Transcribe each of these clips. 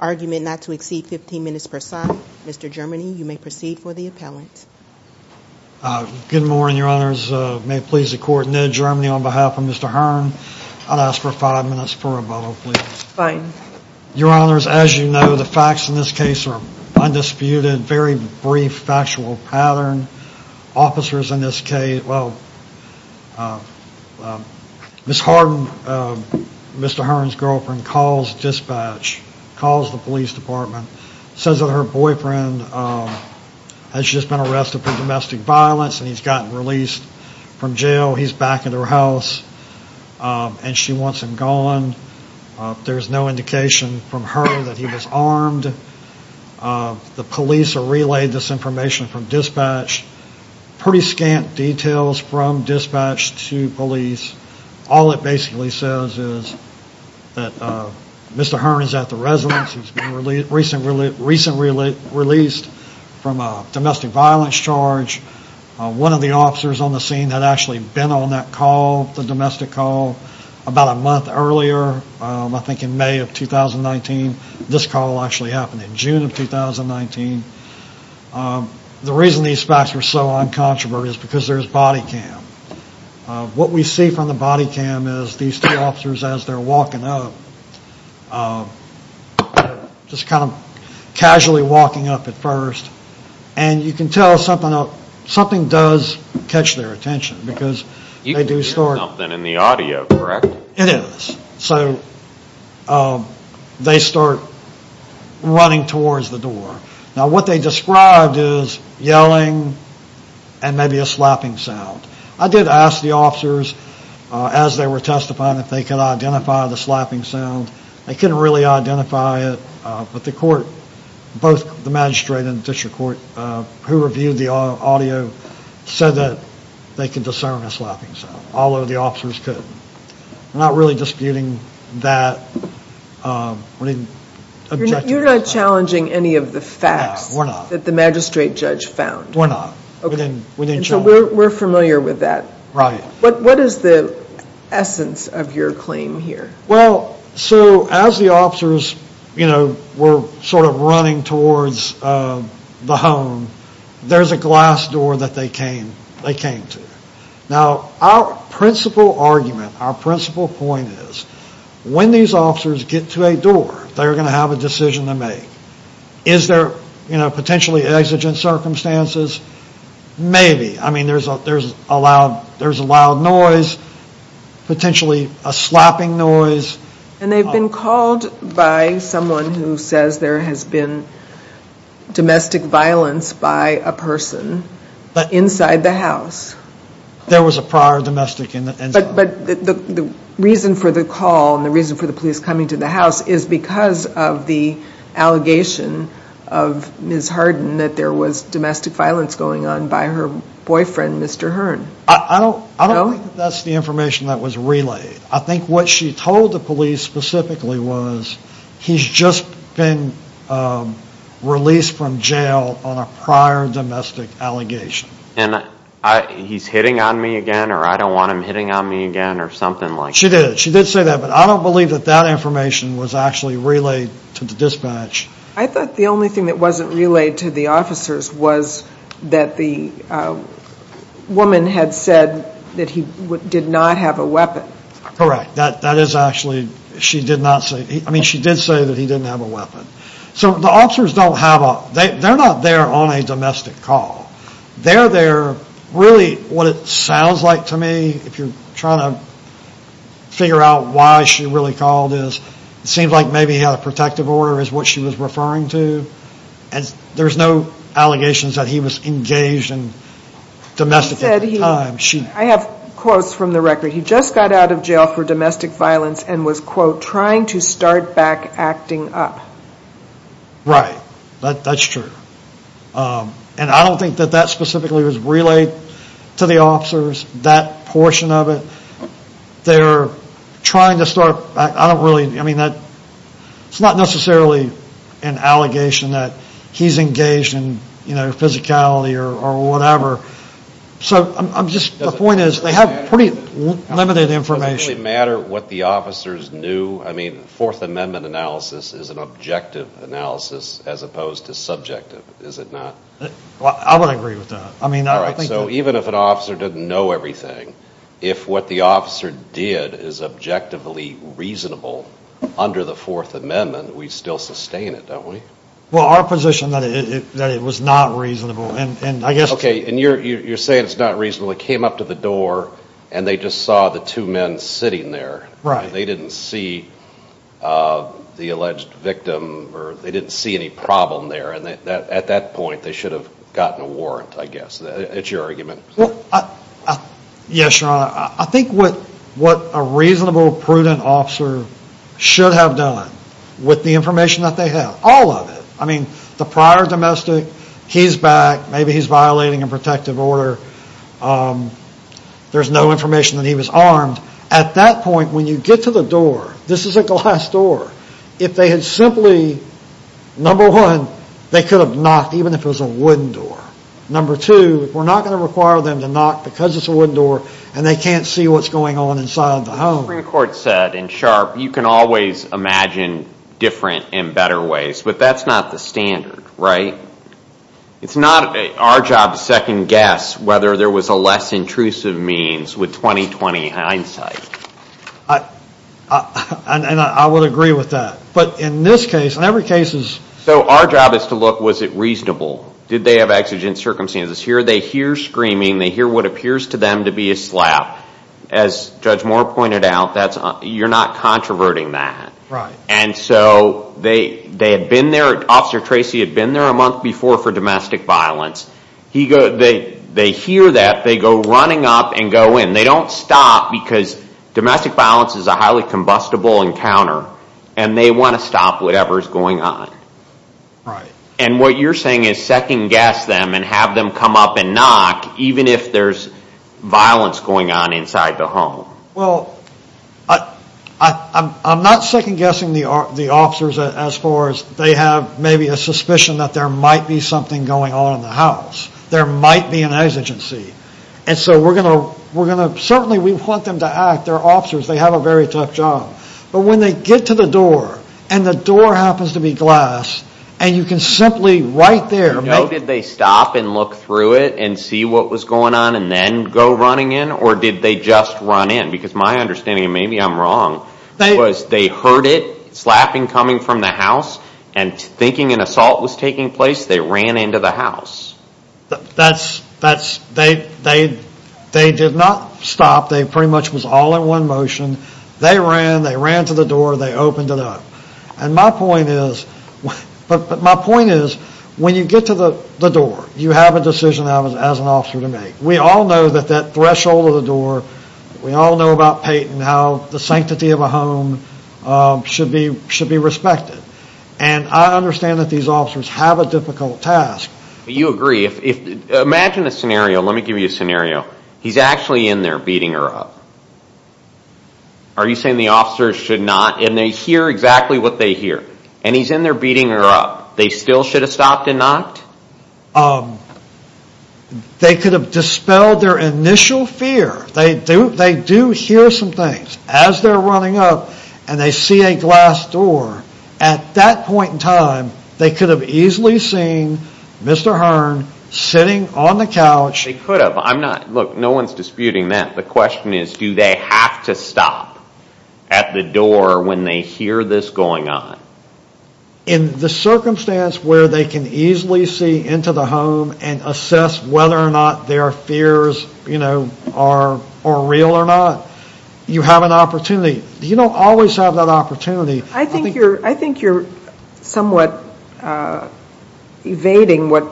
Argument not to exceed 15 minutes per side. Mr. Germany, you may proceed for the appellant. Good morning, your honors. May it please the court, Ned Germany on behalf of Mr. Hearn, I'd ask for five minutes for rebuttal, please. Fine. Your honors, as you know, the facts in this case are undisputed, very brief factual pattern. Officers in this case, well, Ms. Harden, Mr. Hearn's girlfriend, calls dispatch, calls the police department, says that her boyfriend has just been arrested for domestic violence and he's gotten released from jail. He's back at her house and she wants him gone. There's no indication from her that he was armed. The police have relayed this information from dispatch. Pretty scant details from dispatch to police. All it basically says is that Mr. Hearn is at the residence, he's been recently released from a domestic violence charge. One of the officers on the scene had actually been on that call, the domestic call, about a month earlier, I think in May of 2019. This call actually happened in June of 2019. The reason these facts are so just kind of casually walking up at first and you can tell something does catch their attention because they do start You can hear something in the audio, correct? It is. So they start running towards the door. Now what they described is yelling and maybe a slapping sound. I did ask the officers as they were testifying if they could identify the slapping sound. They couldn't really identify it, but the court, both the magistrate and the district court who reviewed the audio said that they could discern a slapping sound, although the officers couldn't. We're not really disputing that. You're not challenging any of the facts that the magistrate judge found? We're not. We didn't challenge it. We're familiar with that. What is the essence of your claim here? Well, so as the officers were sort of running towards the home, there's a glass door that they came to. Now our principal argument, our principal point is when these officers get to a door, they're going to have a decision to make. Is there potentially exigent circumstances? Maybe. I mean there's a loud noise, potentially a slapping noise. And they've been called by someone who says there has been domestic violence by a person inside the house. There was a prior domestic incident. But the reason for the call and the reason for the police coming to the house is because of the allegation of Ms. Harden that there was domestic violence going on by her boyfriend, Mr. Hearn. I don't think that's the information that was relayed. I think what she told the police specifically was he's just been released from jail on a prior domestic allegation. And he's hitting on me again or I don't want him hitting on me again or something like that. She did. She did say that. But I don't believe that that information was actually relayed to the dispatch. I thought the only thing that wasn't relayed to the officers was that the woman had said that he did not have a weapon. Correct. That is actually, she did not say, I mean she did say that he didn't have a weapon. So the officers don't have a, they're not there on a domestic call. They're there, really what it sounds like to me, if you're trying to figure out why she really called is it seems like maybe he had a protective order is what she was referring to. There's no allegations that he was engaged in domestic at the time. I have quotes from the record. He just got out of jail for domestic violence and was, quote, trying to start back acting up. Right. That's true. And I don't think that that specifically was relayed to the officers, that portion of it. They're trying to start, I don't really, I mean it's not necessarily an allegation that he's engaged in physicality or whatever. So I'm just, the point is they have pretty limited information. Does it really matter what the officers knew? I mean, Fourth Amendment analysis is an objective analysis as opposed to subjective, is it not? I would agree with that. All right, so even if an officer didn't know everything, if what the officer did is objectively reasonable under the Fourth Amendment, we still sustain it, don't we? Well, our position is that it was not reasonable. Okay, and you're saying it's not reasonable. He came up to the door and they just saw the two men sitting there. Right. And they didn't see the alleged victim or they didn't see any problem there. At that point, they should have gotten a warrant, I guess. It's your argument. Yes, Your Honor. I think what a reasonable, prudent officer should have done with the information that they have, all of it. I mean, the prior domestic, he's back, maybe he's violating a protective order, there's no information that he was armed. At that point, when you get to the door, this is a glass door. If they had simply, number one, they could have knocked even if it was a wooden door. Number two, we're not going to require them to knock because it's a wooden door and they can't see what's going on inside the home. The Supreme Court said in Sharp, you can always imagine different and better ways, but that's not the standard, right? It's not our job to second guess whether there was a less intrusive means with 20-20 hindsight. And I would agree with that. But in this case, in every case is... So our job is to look, was it reasonable? Did they have exigent circumstances? Here they hear screaming, they hear what appears to them to be a slap. As Judge Moore pointed out, you're not controverting that. And so they had been there, Officer Tracy had been there a month before for domestic violence. They hear that, they go running up and go in. They don't stop because domestic violence is a highly combustible encounter and they want to stop whatever is going on. And what you're saying is second guess them and have them come up and knock even if there's violence going on inside the home. Well, I'm not second guessing the officers as far as they have maybe a suspicion that there might be something going on in the house. There might be an exigency. And so we're going to, certainly we want them to act. They're officers, they have a very tough job. But when they get to the door and the door happens to be glass and you can simply right there... Did they stop and look through it and see what was going on and then go running in? Or did they just run in? Because my understanding, maybe I'm wrong, was they heard it, slapping coming from the house and thinking an assault was taking place, they ran into the house. They did not stop. They pretty much was all in one motion. They ran, they ran to the door, they opened it up. And my point is, when you get to the door, you have a decision as an officer to make. We all know that that threshold of the door, we all know about Peyton, how the sanctity of a home should be respected. And I understand that these officers have a difficult task. You agree. Imagine a scenario, let me give you a scenario. He's actually in there beating her up. Are you saying the officers should not, and they hear exactly what they hear, and he's in there beating her up, they still should have stopped and knocked? They could have dispelled their initial fear. They do hear some things. As they're running up and they see a glass door, at that point in time, they could have easily seen Mr. Hearn sitting on the couch. They could have. I'm not, look, no one's disputing that. The question is, do they have to stop at the door when they hear this going on? In the circumstance where they can easily see into the home and assess whether or not their fears are real or not, you have an opportunity. You don't always have that opportunity. I think you're somewhat evading what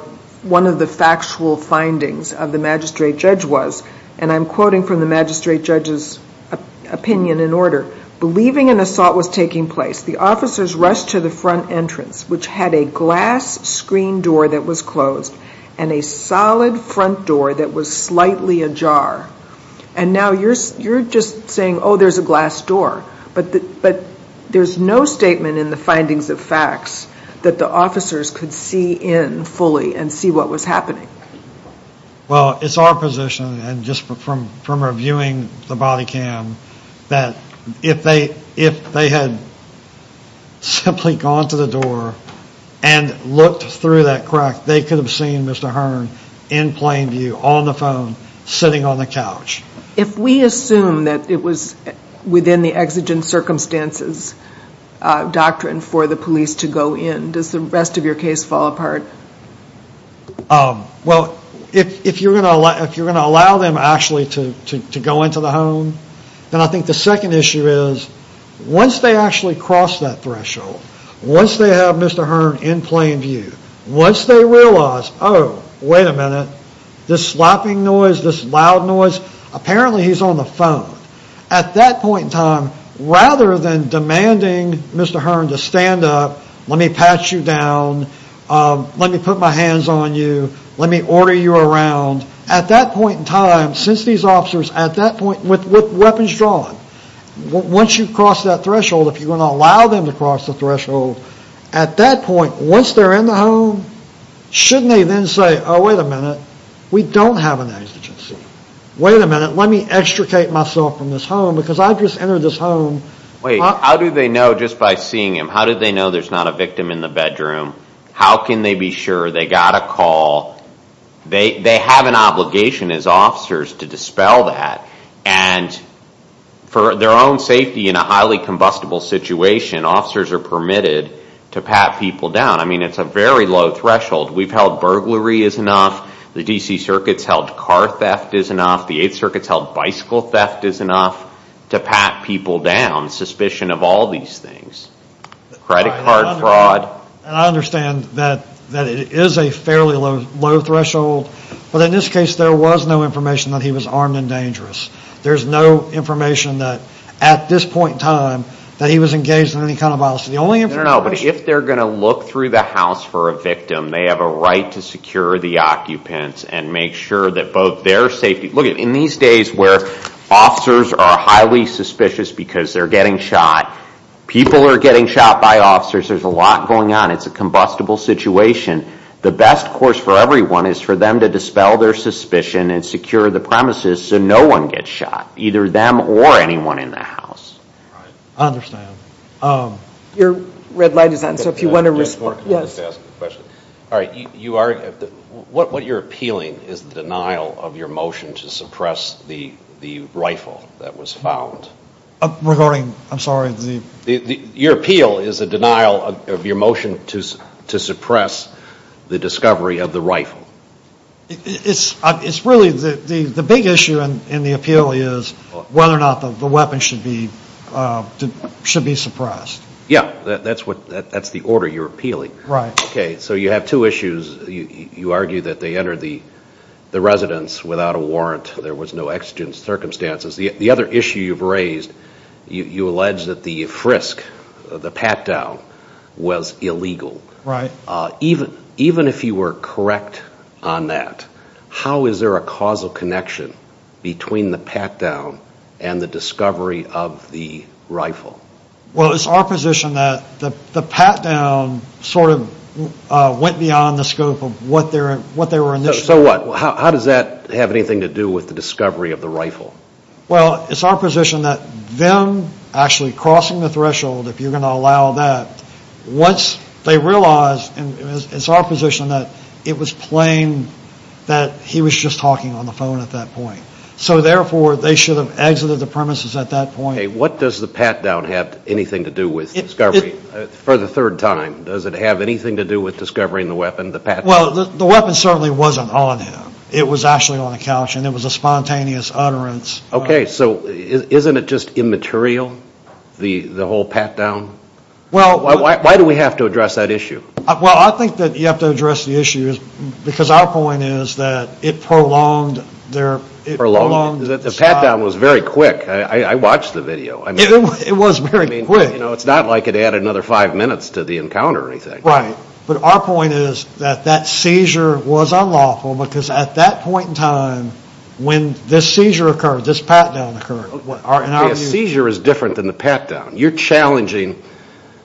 one of the factual findings of the magistrate judge was. And I'm quoting from the magistrate judge's opinion in order. Believing an assault was taking place, the officers rushed to the front entrance, which had a glass screen door that was closed and a solid front door that was slightly ajar. And now you're just saying, oh, there's a glass door. But there's no statement in the findings of facts that the officers could see in fully and see what was happening. Well, it's our position, and just from reviewing the body cam, that if they had simply gone to the door and looked through that crack, they could have seen Mr. Hearn in plain view, on the phone, sitting on the couch. If we assume that it was within the exigent circumstances doctrine for the police to go in, then does the rest of your case fall apart? Well, if you're going to allow them actually to go into the home, then I think the second issue is once they actually cross that threshold, once they have Mr. Hearn in plain view, once they realize, oh, wait a minute, this slapping noise, this loud noise, apparently he's on the phone. At that point in time, rather than demanding Mr. Hearn to stand up, let me pat you down, let me put my hands on you, let me order you around. At that point in time, since these officers, at that point, with weapons drawn, once you cross that threshold, if you're going to allow them to cross the threshold, at that point, once they're in the home, shouldn't they then say, oh, wait a minute, we don't have an exigency. Wait a minute, let me extricate myself from this home, because I just entered this home. Wait, how do they know just by seeing him, how do they know there's not a victim in the bedroom? How can they be sure they got a call? They have an obligation as officers to dispel that, and for their own safety in a highly combustible situation, officers are permitted to pat people down. I mean, it's a very low threshold. We've held burglary is enough. The D.C. Circuit's held car theft is enough. The 8th Circuit's held bicycle theft is enough to pat people down, suspicion of all these things. Credit card fraud. And I understand that it is a fairly low threshold, but in this case, there was no information that he was armed and dangerous. There's no information that, at this point in time, that he was engaged in any kind of violence. I don't know, but if they're going to look through the house for a victim, they have a right to secure the occupants and make sure that both their safety. Look, in these days where officers are highly suspicious because they're getting shot, people are getting shot by officers, there's a lot going on. It's a combustible situation. The best course for everyone is for them to dispel their suspicion and secure the premises I understand. Your red light is on, so if you want to respond. All right. What you're appealing is the denial of your motion to suppress the rifle that was found. I'm sorry. Your appeal is a denial of your motion to suppress the discovery of the rifle. It's really the big issue in the appeal is whether or not the weapon should be suppressed. Yeah, that's the order you're appealing. Right. Okay, so you have two issues. You argue that they entered the residence without a warrant. There was no exigent circumstances. The other issue you've raised, you allege that the frisk, the pat-down, was illegal. Right. Even if you were correct on that, how is there a causal connection between the pat-down and the discovery of the rifle? Well, it's our position that the pat-down sort of went beyond the scope of what they were initially. So what? How does that have anything to do with the discovery of the rifle? Well, it's our position that them actually crossing the threshold, if you're going to allow that, once they realized, and it's our position, that it was plain that he was just talking on the phone at that point. So therefore, they should have exited the premises at that point. Okay, what does the pat-down have anything to do with discovery for the third time? Does it have anything to do with discovering the weapon, the pat-down? Well, the weapon certainly wasn't on him. It was actually on the couch, and it was a spontaneous utterance. Okay, so isn't it just immaterial, the whole pat-down? Well, Why do we have to address that issue? Well, I think that you have to address the issue because our point is that it prolonged their, it prolonged The pat-down was very quick. I watched the video. It was very quick. It's not like it added another five minutes to the encounter or anything. Right, but our point is that that seizure was unlawful because at that point in time, when this seizure occurred, this pat-down occurred. Okay, a seizure is different than the pat-down. You're challenging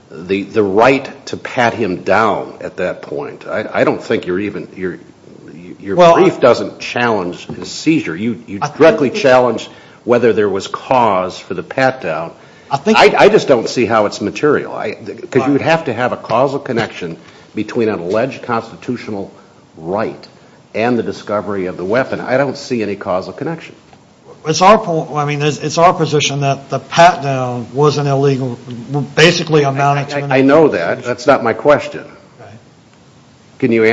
the right to pat him down at that point. I don't think you're even, your brief doesn't challenge the seizure. You directly challenge whether there was cause for the pat-down. I think I just don't see how it's material. You would have to have a causal connection between an alleged constitutional right and the discovery of the weapon. I don't see any causal connection. It's our point, I mean, it's our position that the pat-down was an illegal, basically amounted to an illegal seizure. I know that. That's not my question. Okay. Can you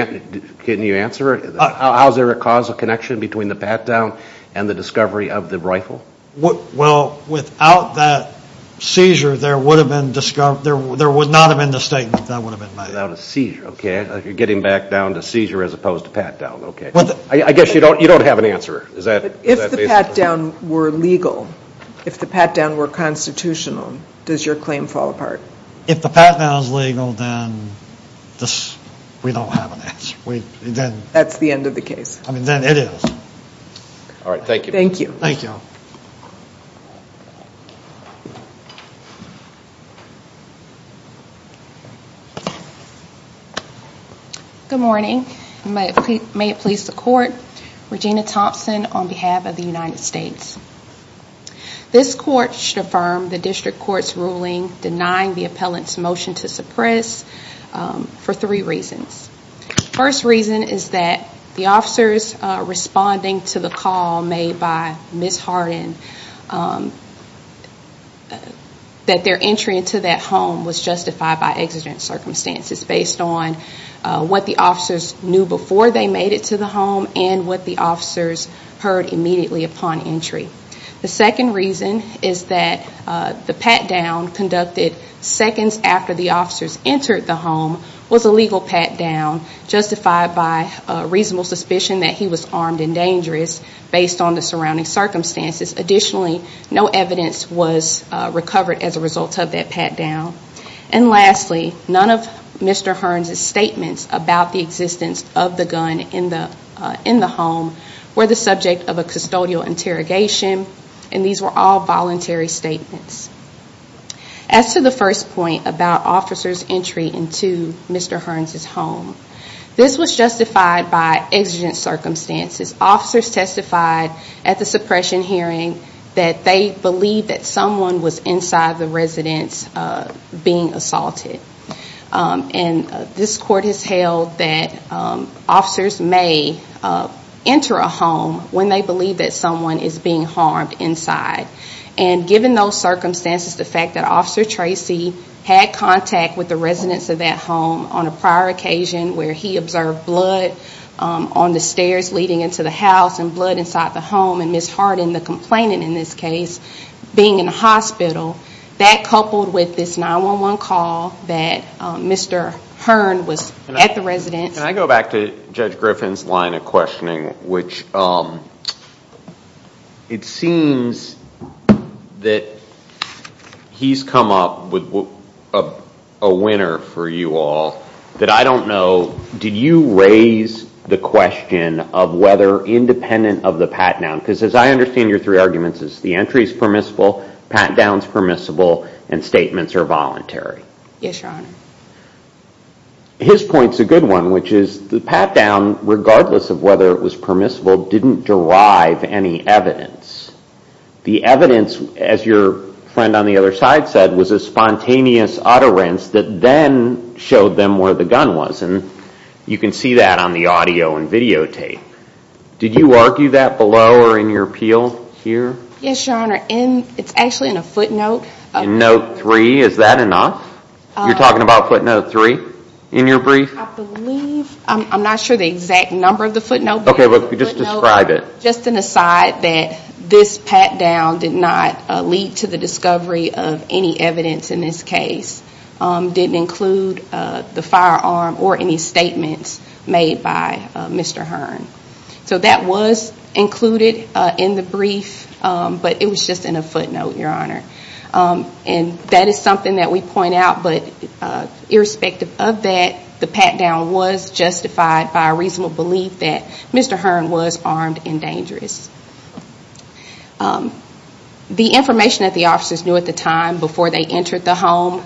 answer it? How is there a causal connection between the pat-down and the discovery of the rifle? Well, without that seizure, there would not have been the statement that would have been made. Without a seizure, okay. You're getting back down to seizure as opposed to pat-down, okay. I guess you don't have an answer. If the pat-down were legal, if the pat-down were constitutional, does your claim fall apart? If the pat-down is legal, then we don't have an answer. That's the end of the case. Then it is. All right. Thank you. Thank you. Good morning. May it please the court. Regina Thompson on behalf of the United States. This court should affirm the district court's ruling denying the appellant's motion to suppress for three reasons. First reason is that the officers responding to the call made by Ms. Harden, that their entry into that home was justified by exigent circumstances based on what the officers knew before they made it to the home and what the officers heard immediately upon entry. The second reason is that the pat-down conducted seconds after the officers entered the home was a legal pat-down justified by reasonable suspicion that he was armed and dangerous based on the surrounding circumstances. Additionally, no evidence was recovered as a result of that pat-down. And lastly, none of Mr. Hearn's statements about the existence of the gun in the home were the subject of a custodial interrogation, and these were all voluntary statements. As to the first point about officers' entry into Mr. Hearn's home, this was justified by exigent circumstances. Officers testified at the suppression hearing that they believed that someone was inside the residence being assaulted. And this court has held that officers may enter a home when they believe that someone is being harmed inside. And given those circumstances, the fact that Officer Tracy had contact with the residents of that home on a prior occasion where he observed blood on the stairs leading into the house and blood inside the home and Ms. Harden, the complainant in this case, being in the hospital, that coupled with this 911 call that Mr. Hearn was at the residence. Can I go back to Judge Griffin's line of questioning, which it seems that he's come up with a winner for you all that I don't know, did you raise the question of whether independent of the pat-down, because as I understand your three arguments, the entry is permissible, pat-down is permissible, and statements are voluntary. Yes, Your Honor. His point's a good one, which is the pat-down, regardless of whether it was permissible, didn't derive any evidence. The evidence, as your friend on the other side said, was a spontaneous utterance that then showed them where the gun was. And you can see that on the audio and videotape. Did you argue that below or in your appeal here? Yes, Your Honor. It's actually in a footnote. In note three, is that enough? You're talking about footnote three in your brief? I believe, I'm not sure the exact number of the footnote. Okay, but just describe it. Just an aside that this pat-down did not lead to the discovery of any evidence in this case. Didn't include the firearm or any statements made by Mr. Hearn. So that was included in the brief, but it was just in a footnote, Your Honor. And that is something that we point out, but irrespective of that, the pat-down was justified by a reasonable belief that Mr. Hearn was armed and dangerous. The information that the officers knew at the time before they entered the home,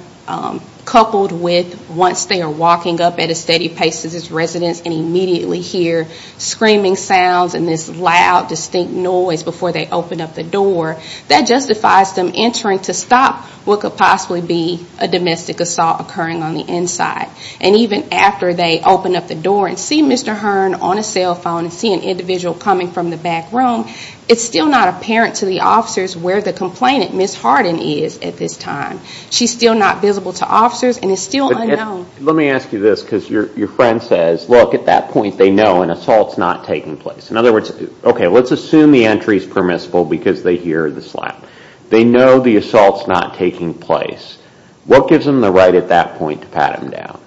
coupled with once they are walking up at a steady pace to this residence and immediately hear screaming sounds and this loud, distinct noise before they open up the door, that justifies them entering to stop what could possibly be a domestic assault occurring on the inside. And even after they open up the door and see Mr. Hearn on a cell phone and see an individual coming from the back room, it's still not apparent to the officers where the complainant, Ms. Harden, is at this time. She's still not visible to officers and is still unknown. Let me ask you this, because your friend says, look, at that point they know an assault's not taking place. In other words, okay, let's assume the entry's permissible because they hear the slap. They know the assault's not taking place. What gives them the right at that point to pat him down?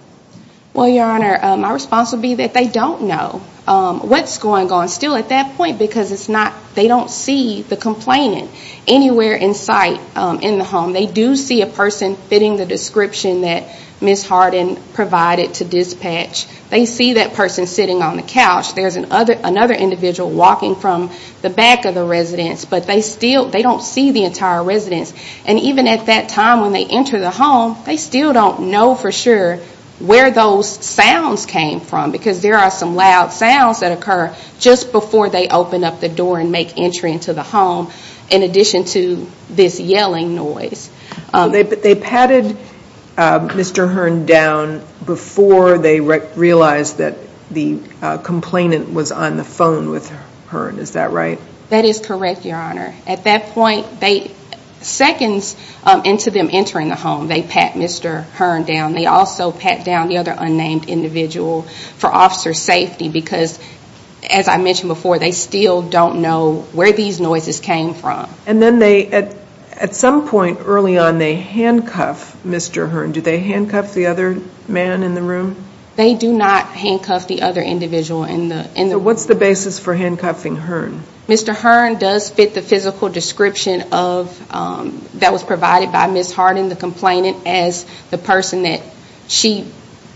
Well, Your Honor, my response would be that they don't know what's going on still at that point because they don't see the complainant anywhere in sight in the home. They do see a person fitting the description that Ms. Harden provided to dispatch. They see that person sitting on the couch. There's another individual walking from the back of the residence, but they don't see the entire residence. And even at that time when they enter the home, they still don't know for sure where those sounds came from because there are some loud sounds that occur just before they open up the door and make entry into the home in addition to this yelling noise. They patted Mr. Hearn down before they realized that the complainant was on the phone with Hearn. Is that right? That is correct, Your Honor. At that point, seconds into them entering the home, they pat Mr. Hearn down. They also pat down the other unnamed individual for officer safety because, as I mentioned before, they still don't know where these noises came from. And then at some point early on, they handcuff Mr. Hearn. Do they handcuff the other man in the room? They do not handcuff the other individual in the room. So what's the basis for handcuffing Hearn? Mr. Hearn does fit the physical description that was provided by Ms. Harden, the complainant, as the person that she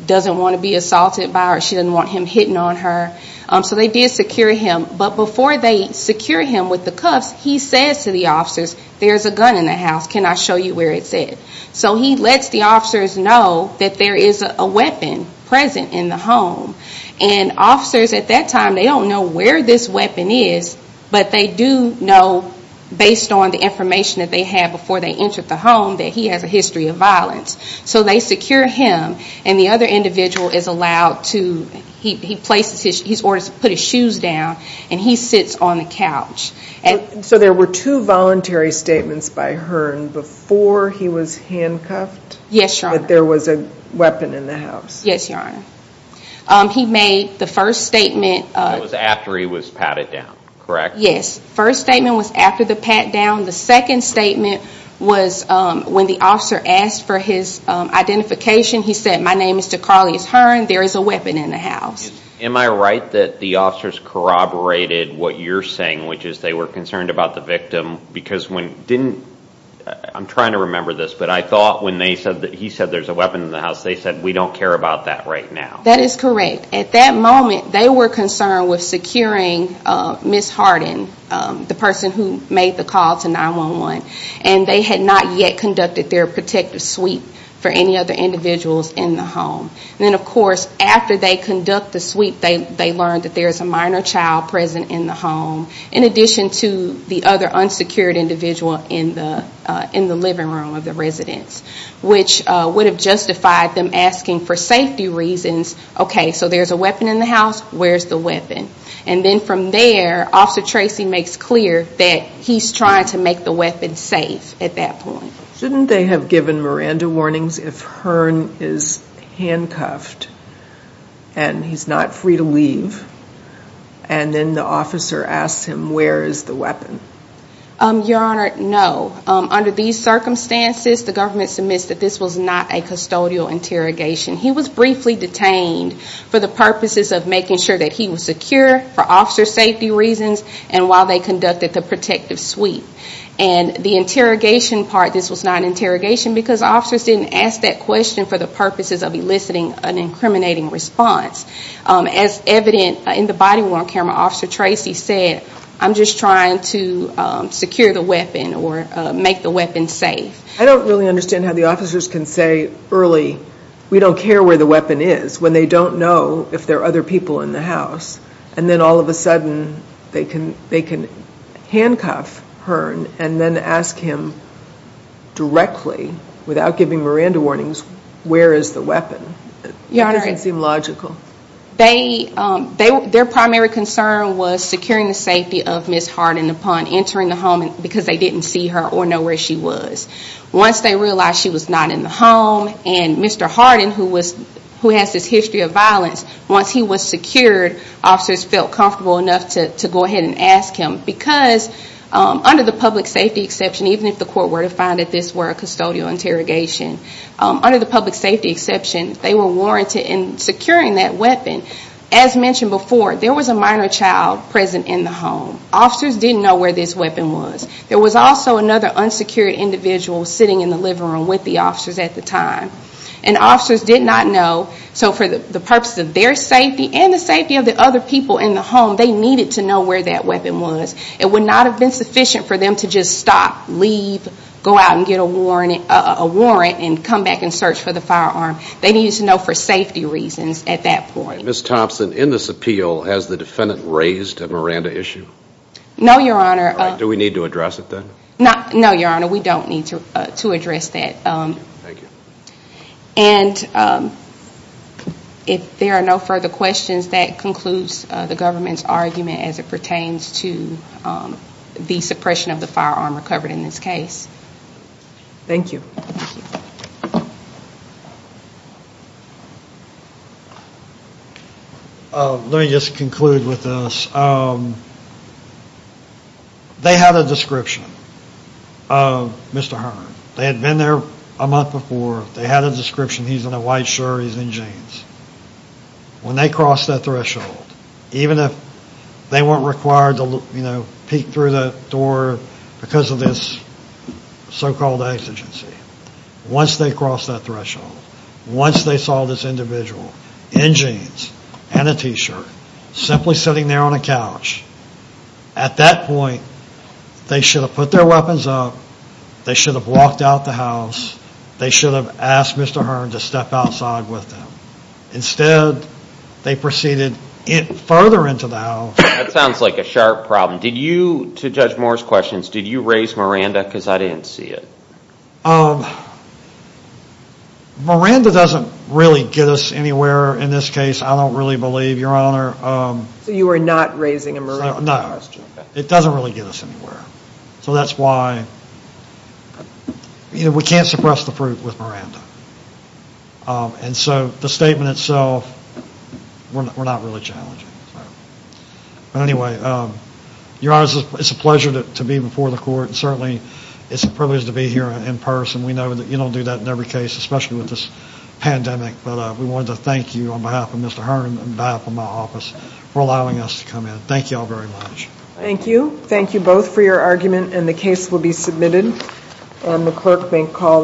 doesn't want to be assaulted by or she doesn't want him hitting on her. So they did secure him. But before they secure him with the cuffs, he says to the officers, there's a gun in the house, can I show you where it's at? So he lets the officers know that there is a weapon present in the home. And officers at that time, they don't know where this weapon is, but they do know, based on the information that they had before they entered the home, that he has a history of violence. So they secure him, and the other individual is allowed to put his shoes down, and he sits on the couch. So there were two voluntary statements by Hearn before he was handcuffed? That there was a weapon in the house? Yes, Your Honor. He made the first statement. It was after he was patted down, correct? Yes, first statement was after the pat down. The second statement was when the officer asked for his identification. He said, my name is DeCarlius Hearn, there is a weapon in the house. Am I right that the officers corroborated what you're saying, which is they were concerned about the victim because when didn't, I'm trying to remember this, but I thought when he said there's a weapon in the house, they said we don't care about that right now. That is correct. At that moment, they were concerned with securing Ms. Harden, the person who made the call to 911, and they had not yet conducted their protective sweep for any other individuals in the home. Then, of course, after they conduct the sweep, they learned that there is a minor child present in the home, in addition to the other unsecured individual in the living room of the residence, which would have justified them asking for safety reasons, okay, so there's a weapon in the house, where's the weapon? Then from there, Officer Tracy makes clear that he's trying to make the weapon safe at that point. Shouldn't they have given Miranda warnings if Hearn is handcuffed and he's not free to leave, and then the officer asks him where is the weapon? Your Honor, no. Under these circumstances, the government submits that this was not a custodial interrogation. He was briefly detained for the purposes of making sure that he was secure for officer safety reasons and while they conducted the protective sweep. And the interrogation part, this was not an interrogation because officers didn't ask that question for the purposes of eliciting an incriminating response. As evident in the body worn camera, Officer Tracy said, I'm just trying to secure the weapon or make the weapon safe. I don't really understand how the officers can say early, we don't care where the weapon is, when they don't know if there are other people in the house. And then all of a sudden, they can handcuff Hearn and then ask him directly, without giving Miranda warnings, where is the weapon. It doesn't seem logical. Their primary concern was securing the safety of Ms. Hearn upon entering the home because they didn't see her or know where she was. Once they realized she was not in the home and Mr. Hearn, who has this history of violence, once he was secured, officers felt comfortable enough to go ahead and ask him. Because under the public safety exception, even if the court were to find that this were a custodial interrogation, under the public safety exception, they were warranted in securing that weapon. As mentioned before, there was a minor child present in the home. Officers didn't know where this weapon was. There was also another unsecured individual sitting in the living room with the officers at the time. And officers did not know, so for the purpose of their safety and the safety of the other people in the home, they needed to know where that weapon was. It would not have been sufficient for them to just stop, leave, go out and get a warrant and come back and search for the firearm. They needed to know for safety reasons at that point. Ms. Thompson, in this appeal, has the defendant raised a Miranda issue? No, Your Honor. Do we need to address it then? No, Your Honor, we don't need to address that. Thank you. And if there are no further questions, that concludes the government's argument as it pertains to the suppression of the firearm recovered in this case. Thank you. Let me just conclude with this. They had a description of Mr. Hearn. They had been there a month before. They had a description. He's in a white shirt. He's in jeans. When they crossed that threshold, even if they weren't required to peek through the door because of this so-called exigency, once they crossed that threshold, once they saw this individual in jeans and a t-shirt, simply sitting there on a couch, at that point, they should have put their weapons up. They should have walked out the house. They should have asked Mr. Hearn to step outside with them. Instead, they proceeded further into the house. That sounds like a sharp problem. To judge Moore's questions, did you raise Miranda because I didn't see it? Miranda doesn't really get us anywhere in this case, I don't really believe, Your Honor. So you are not raising a Miranda question? No. It doesn't really get us anywhere. So that's why we can't suppress the fruit with Miranda. And so the statement itself, we're not really challenging. But anyway, Your Honor, it's a pleasure to be before the court. Certainly, it's a privilege to be here in person. We know that you don't do that in every case, especially with this pandemic. But we wanted to thank you on behalf of Mr. Hearn and on behalf of my office for allowing us to come in. Thank you all very much. Thank you. Thank you both for your argument, and the case will be submitted. And the clerk may call the next case.